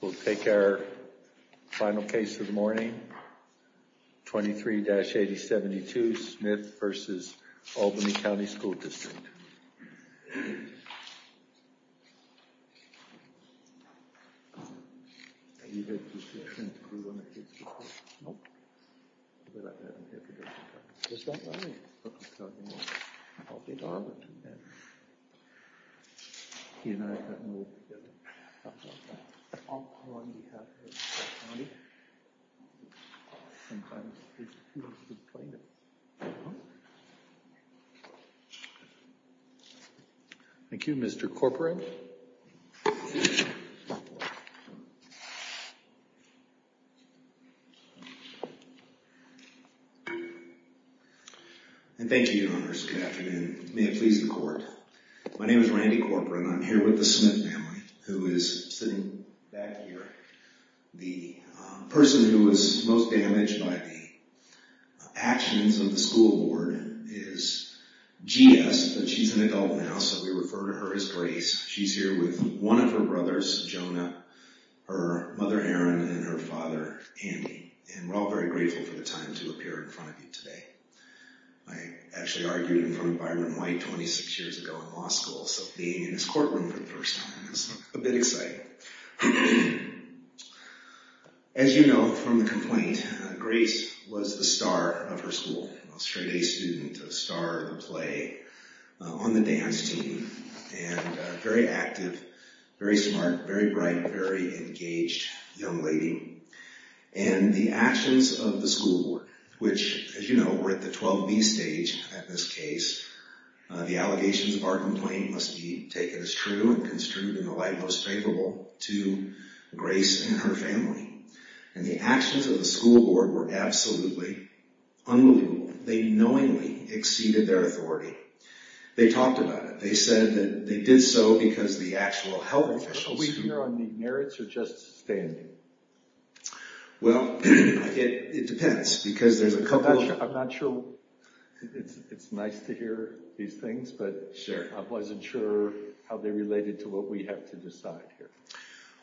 We'll take our final case of the morning. 23-8072, Smith v. Albany County School District. Thank you, Mr. Corporan. And thank you, Your Honors, good afternoon. May it please the Court, my name is Randy Corporan. I'm here with the Smith family, who is sitting back here. The person who was most damaged by the actions of the school board is G.S., but she's an adult now, so we refer to her as Grace. She's here with one of her brothers, Jonah, her mother, Aaron, and her father, Andy. And we're all very grateful for the time to appear in front of you today. I actually argued in front of Byron White 26 years ago in law school, so being in this courtroom for the first time is a bit exciting. As you know from the complaint, Grace was the star of her school, a straight-A student, a star in the play, on the dance team, and a very active, very smart, very bright, very engaged young lady. And the actions of the school board, which, as you know, were at the 12B stage at this case, the allegations of our complaint must be taken as true and construed in the light most favorable to Grace and her family. And the actions of the school board were absolutely unbelievable. They knowingly exceeded their authority. They talked about it. They said that they did so because the actual health officials... Are we here on the merits or just standing? Well, it depends, because there's a couple of... I'm not sure it's nice to hear these things, but I wasn't sure how they related to what we have to decide here.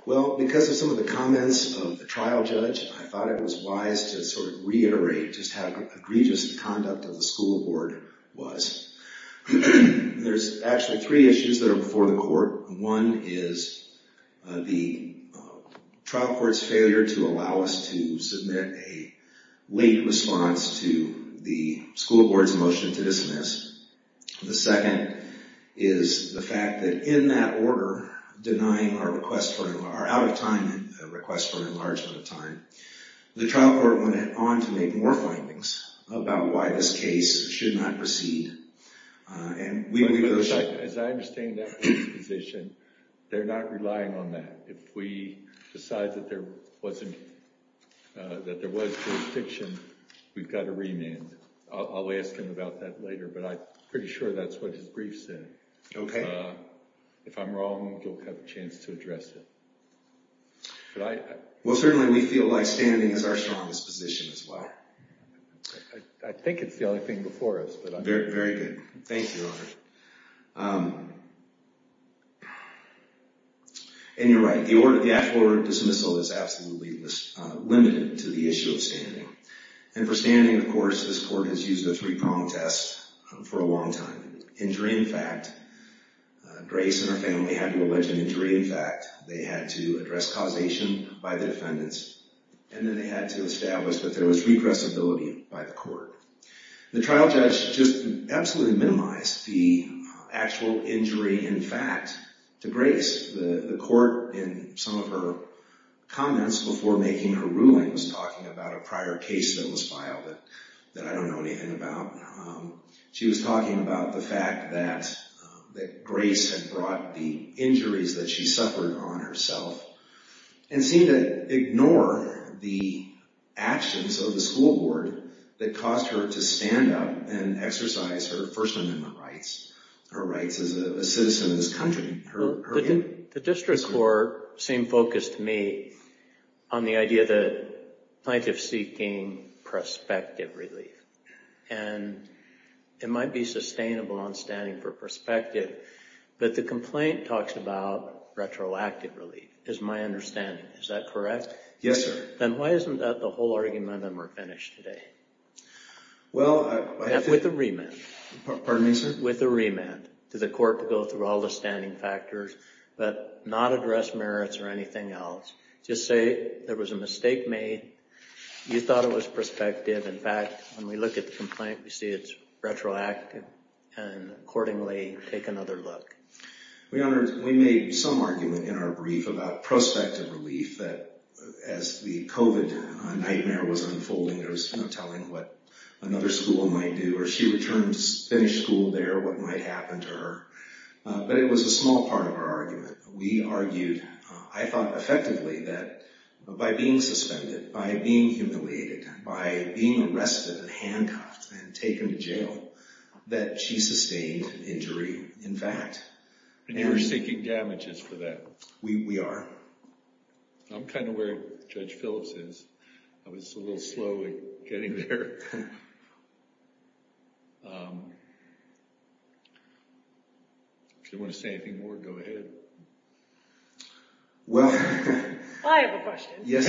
Well, because of some of the comments of the trial judge, I thought it was wise to sort of reiterate just how egregious the conduct of the school board was. There's actually three issues that are before the court. One is the trial court's failure to allow us to submit a late response to the school board's motion to dismiss. The second is the fact that in that order, denying our request for an enlargement of time, the trial court went on to make more findings about why this case should not proceed. As I understand that position, they're not relying on that. If we decide that there was jurisdiction, we've got to remand. I'll ask him about that later, but I'm pretty sure that's what his brief said. If I'm wrong, you'll have a chance to address it. Well, certainly we feel like standing is our strongest position as well. I think it's the only thing before us. Very good. Thank you, Your Honor. And you're right. The actual order of dismissal is absolutely limited to the issue of standing. And for standing, of course, this court has used the three prong test for a long time. Injury in fact, Grace and her family had to allege an injury in fact. They had to address causation by the defendants, and then they had to establish that there was regressibility by the court. The trial judge just absolutely minimized the actual injury in fact to Grace. The court, in some of her comments before making her ruling, was talking about a prior case that was filed that I don't know anything about. She was talking about the fact that Grace had brought the injuries that she suffered on herself and seemed to ignore the actions of the school board that caused her to stand up and exercise her First Amendment rights, her rights as a citizen of this country. The district court seemed focused to me on the idea that plaintiffs seeking prospective relief. And it might be sustainable on standing for prospective, but the complaint talks about retroactive relief is my understanding. Is that correct? Yes, sir. Then why isn't that the whole argument and we're finished today? Well, I... With a remand. Pardon me, sir? With a remand to the court to go through all the standing factors, but not address merits or anything else. Just say there was a mistake made, you thought it was prospective. In fact, when we look at the complaint, we see it's retroactive. And accordingly, take another look. We made some argument in our brief about prospective relief, that as the COVID nightmare was unfolding, there was no telling what another school might do, or she returned to finish school there, what might happen to her. But it was a small part of our argument. We argued, I thought effectively, that by being suspended, by being humiliated, by being arrested and handcuffed and taken to jail, that she sustained an injury, in fact. And you're seeking damages for that. We are. I'm kind of where Judge Phillips is. I was a little slow at getting there. If you want to say anything more, go ahead. Well... I have a question. Yes.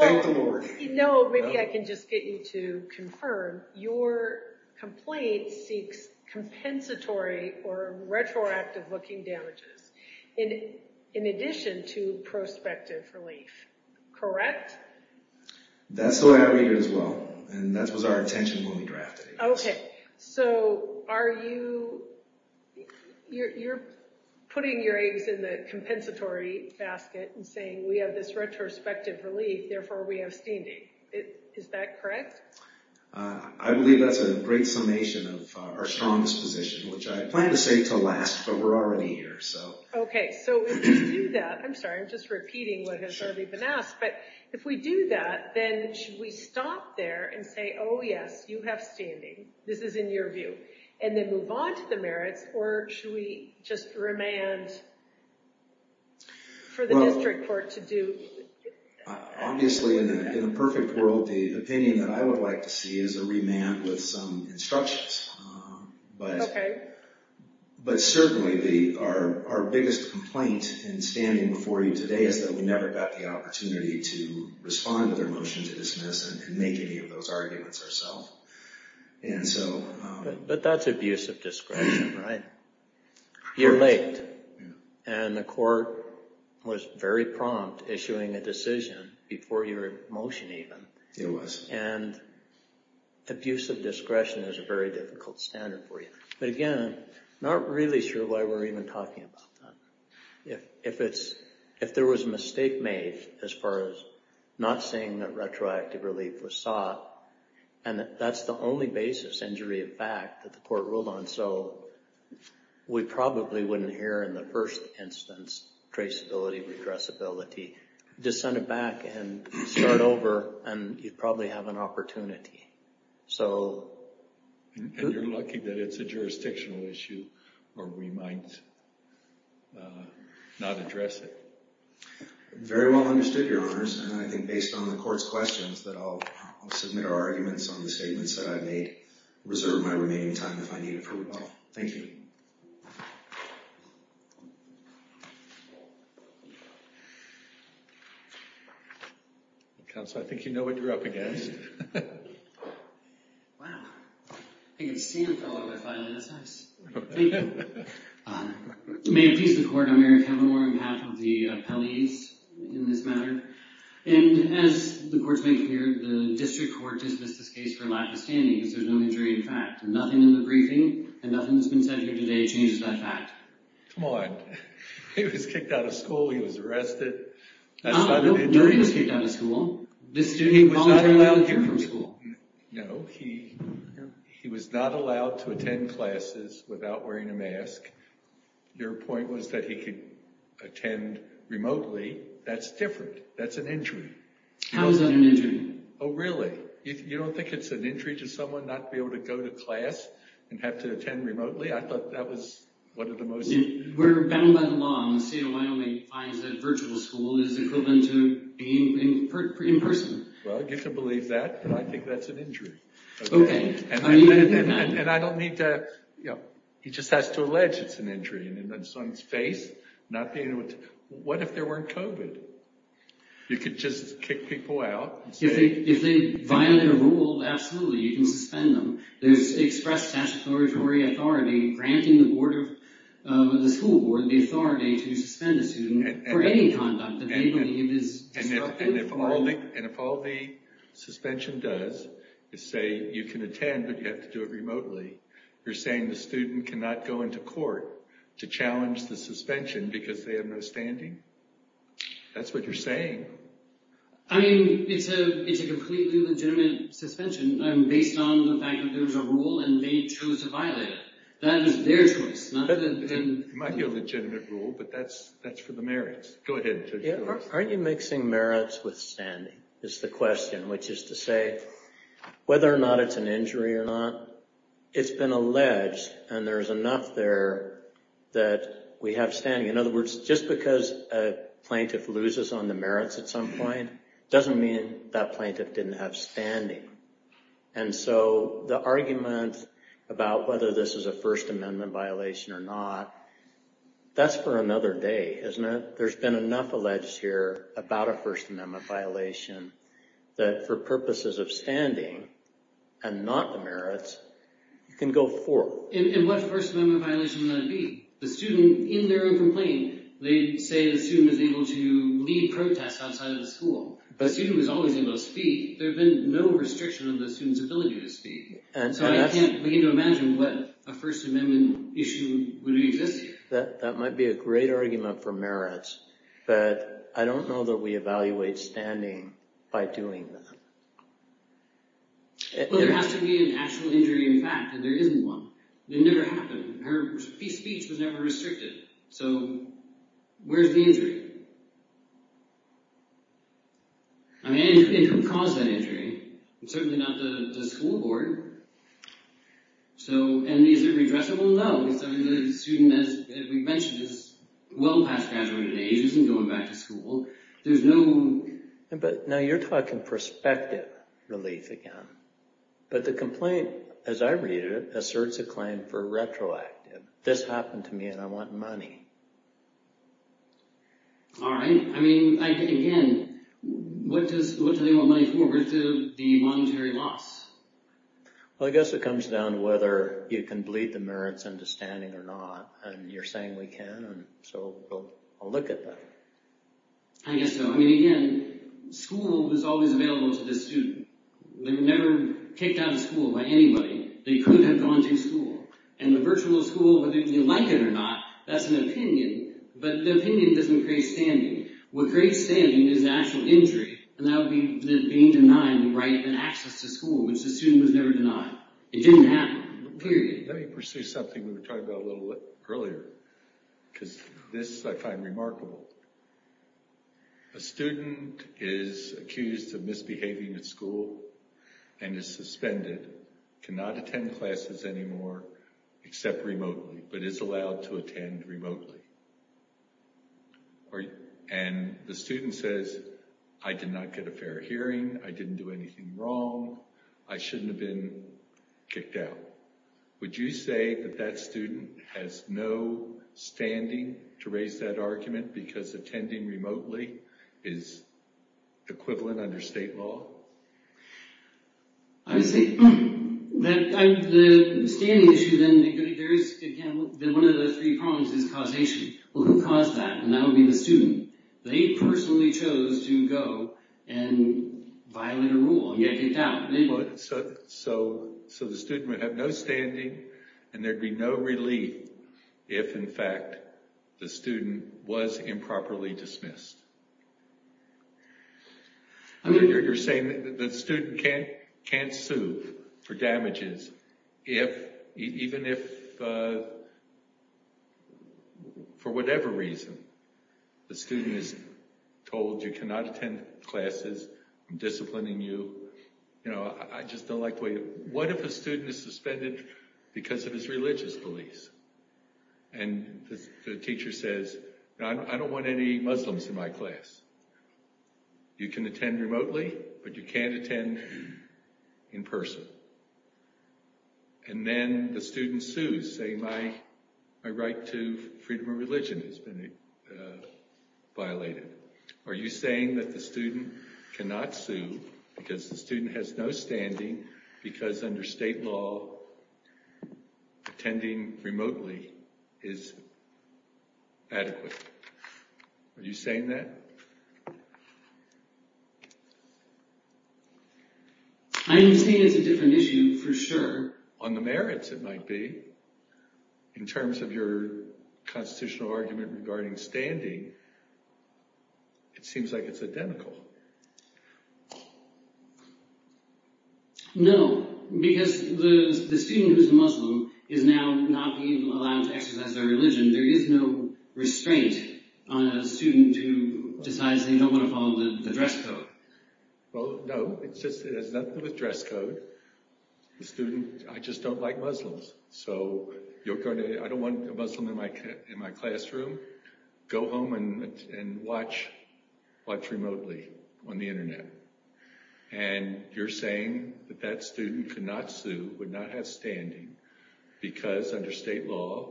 Thank the Lord. No, maybe I can just get you to confirm. Your complaint seeks compensatory or retroactive looking damages, in addition to prospective relief. Correct? That's the way I read it as well. And that was our intention when we drafted it. Okay. So, are you... You're putting your eggs in the compensatory basket and saying, we have this retrospective relief, therefore we have standing. Is that correct? I believe that's a great summation of our strongest position, which I plan to say to last, but we're already here. Okay. So, if we do that... I'm sorry, I'm just repeating what has already been asked. But if we do that, then should we stop there and say, oh, yes, you have standing, this is in your view, and then move on to the merits, or should we just remand for the district court to do? Obviously, in the perfect world, the opinion that I would like to see is a remand with some instructions. Okay. But certainly, our biggest complaint in standing before you today is that we never got the opportunity to respond to their motion to dismiss and make any of those arguments ourselves. But that's abuse of discretion, right? You're late. And the court was very prompt issuing a decision before your motion even. It was. And abuse of discretion is a very difficult standard for you. But again, I'm not really sure why we're even talking about that. If there was a mistake made as far as not saying that retroactive relief was sought, and that's the only basis, injury of fact, that the court ruled on, so we probably wouldn't hear in the first instance traceability, regressibility. Just send it back and start over, and you'd probably have an opportunity. And you're lucky that it's a jurisdictional issue or we might not address it. Very well understood, Your Honors. And I think based on the court's questions, that I'll submit our arguments on the statements that I've made, reserve my remaining time if I need approval. Thank you. Counsel, I think you know what you're up against. Wow. I think a sand fell out of my file, and that's nice. Thank you. May it please the court, I'm Eric Helemore on behalf of the appellees in this matter. And as the court's making clear, the district court dismissed this case for lack of standing because there's no injury of fact. Nothing in the briefing and nothing that's been said here today changes that fact. Come on. He was kicked out of school. He was arrested. That's not an injury. No, he was kicked out of school. This student was not allowed here from school. No, he was not allowed to attend classes without wearing a mask. Your point was that he could attend remotely. That's different. That's an injury. How is that an injury? Oh, really? You don't think it's an injury to someone not be able to go to class and have to attend remotely? I thought that was one of the most. Where battle went along, Seattle, Wyoming finds that virtual school is equivalent to being in person. Well, you can believe that. But I think that's an injury. And I don't need to. You know, he just has to allege it's an injury. And it's on his face. Not being able to. What if there weren't COVID? You could just kick people out. If they violate a rule, absolutely. You can suspend them. There's express statutory authority granting the school board the authority to suspend a student for any conduct. And if all the suspension does is say you can attend but you have to do it remotely, you're saying the student cannot go into court to challenge the suspension because they have no standing? That's what you're saying. I mean, it's a completely legitimate suspension based on the fact that there's a rule and they chose to violate it. That is their choice. It might be a legitimate rule, but that's for the merits. Aren't you mixing merits with standing is the question, which is to say whether or not it's an injury or not. It's been alleged and there's enough there that we have standing. In other words, just because a plaintiff loses on the merits at some point doesn't mean that plaintiff didn't have standing. And so the argument about whether this is a First Amendment violation or not, that's for another day, isn't it? There's been enough alleged here about a First Amendment violation that for purposes of standing and not the merits, you can go forth. And what First Amendment violation would that be? The student, in their own complaint, they say the student was able to lead protests outside of the school. The student was always able to speak. There had been no restriction on the student's ability to speak. So I can't begin to imagine what a First Amendment issue would exist here. That might be a great argument for merits, but I don't know that we evaluate standing by doing that. Well, there has to be an actual injury in fact, and there isn't one. It never happened. Her speech was never restricted. So where's the injury? I mean, who caused that injury? Certainly not the school board. And is it redressable? I don't know. The student, as we've mentioned, is well past graduated age, isn't going back to school. There's no... But now you're talking perspective relief again. But the complaint, as I read it, asserts a claim for retroactive. This happened to me and I want money. All right. I mean, again, what do they want money for? Where's the monetary loss? Well, I guess it comes down to whether you can bleed the merits into standing or not. And you're saying we can, and so we'll look at that. I guess so. I mean, again, school is always available to the student. They were never kicked out of school by anybody. They could have gone to school. And the virtual school, whether you like it or not, that's an opinion. But the opinion doesn't create standing. What creates standing is the actual injury. And that would be being denied the right and access to school, which the student was never denied. It didn't happen. Period. Let me pursue something we were talking about a little earlier, because this I find remarkable. A student is accused of misbehaving at school and is suspended, cannot attend classes anymore, except remotely, but is allowed to attend remotely. And the student says, I did not get a fair hearing. I didn't do anything wrong. I shouldn't have been kicked out. Would you say that that student has no standing to raise that argument because attending remotely is equivalent under state law? I would say that the standing issue, then, there is, again, one of the three problems is causation. Well, who caused that? And that would be the student. They personally chose to go and violate a rule and get kicked out. So the student would have no standing, and there'd be no relief if, in fact, the student was improperly dismissed. I know you're saying that the student can't sue for damages if, even if, for whatever reason, the student is told, you cannot attend classes, I'm disciplining you, you know, I just don't like the way, what if a student is suspended because of his religious beliefs? And the teacher says, I don't want any Muslims in my class. You can attend remotely, but you can't attend in person. And then the student sues, saying my right to freedom of religion has been violated. Are you saying that the student cannot sue because the student has no standing because under state law, attending remotely is adequate? Are you saying that? I understand it's a different issue, for sure. On the merits, it might be, in terms of your constitutional argument regarding standing, it seems like it's identical. No, because the student who's Muslim is now not being allowed to exercise their religion. There is no restraint on a student who decides they don't want to follow the dress code. Well, no, it's just, it has nothing to do with dress code. The student, I just don't like Muslims. So, you're going to, I don't want a Muslim in my classroom. Go home and watch, watch remotely on the internet. And you're saying that that student could not sue, would not have standing, because under state law,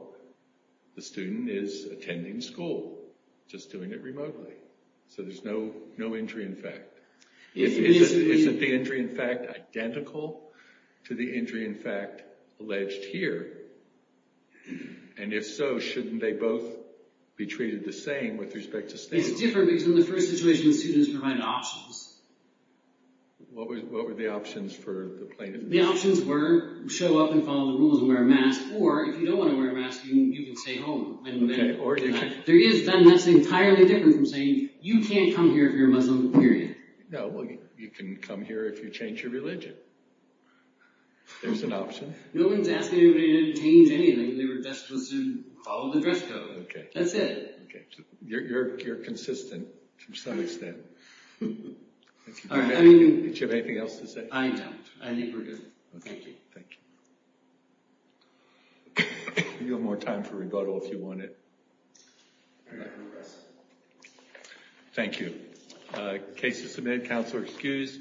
the student is attending school, just doing it remotely. So there's no injury in fact. Isn't the injury in fact identical to the injury in fact alleged here? And if so, shouldn't they both be treated the same with respect to standing? It's different because in the first situation, the students provided options. What were the options for the plaintiff? The options were, show up and follow the rules and wear a mask, or if you don't want to wear a mask, you can stay home. There is then, that's entirely different from saying, you can't come here if you're a Muslim, period. No, well, you can come here if you change your religion. There's an option. No one's asking anybody to change anything. They were just supposed to follow the dress code. That's it. You're consistent to some extent. Do you have anything else to say? I don't. I think we're good. Thank you. Thank you. You have more time for rebuttal if you want it. Thank you. Case is submitted. Counselor excused.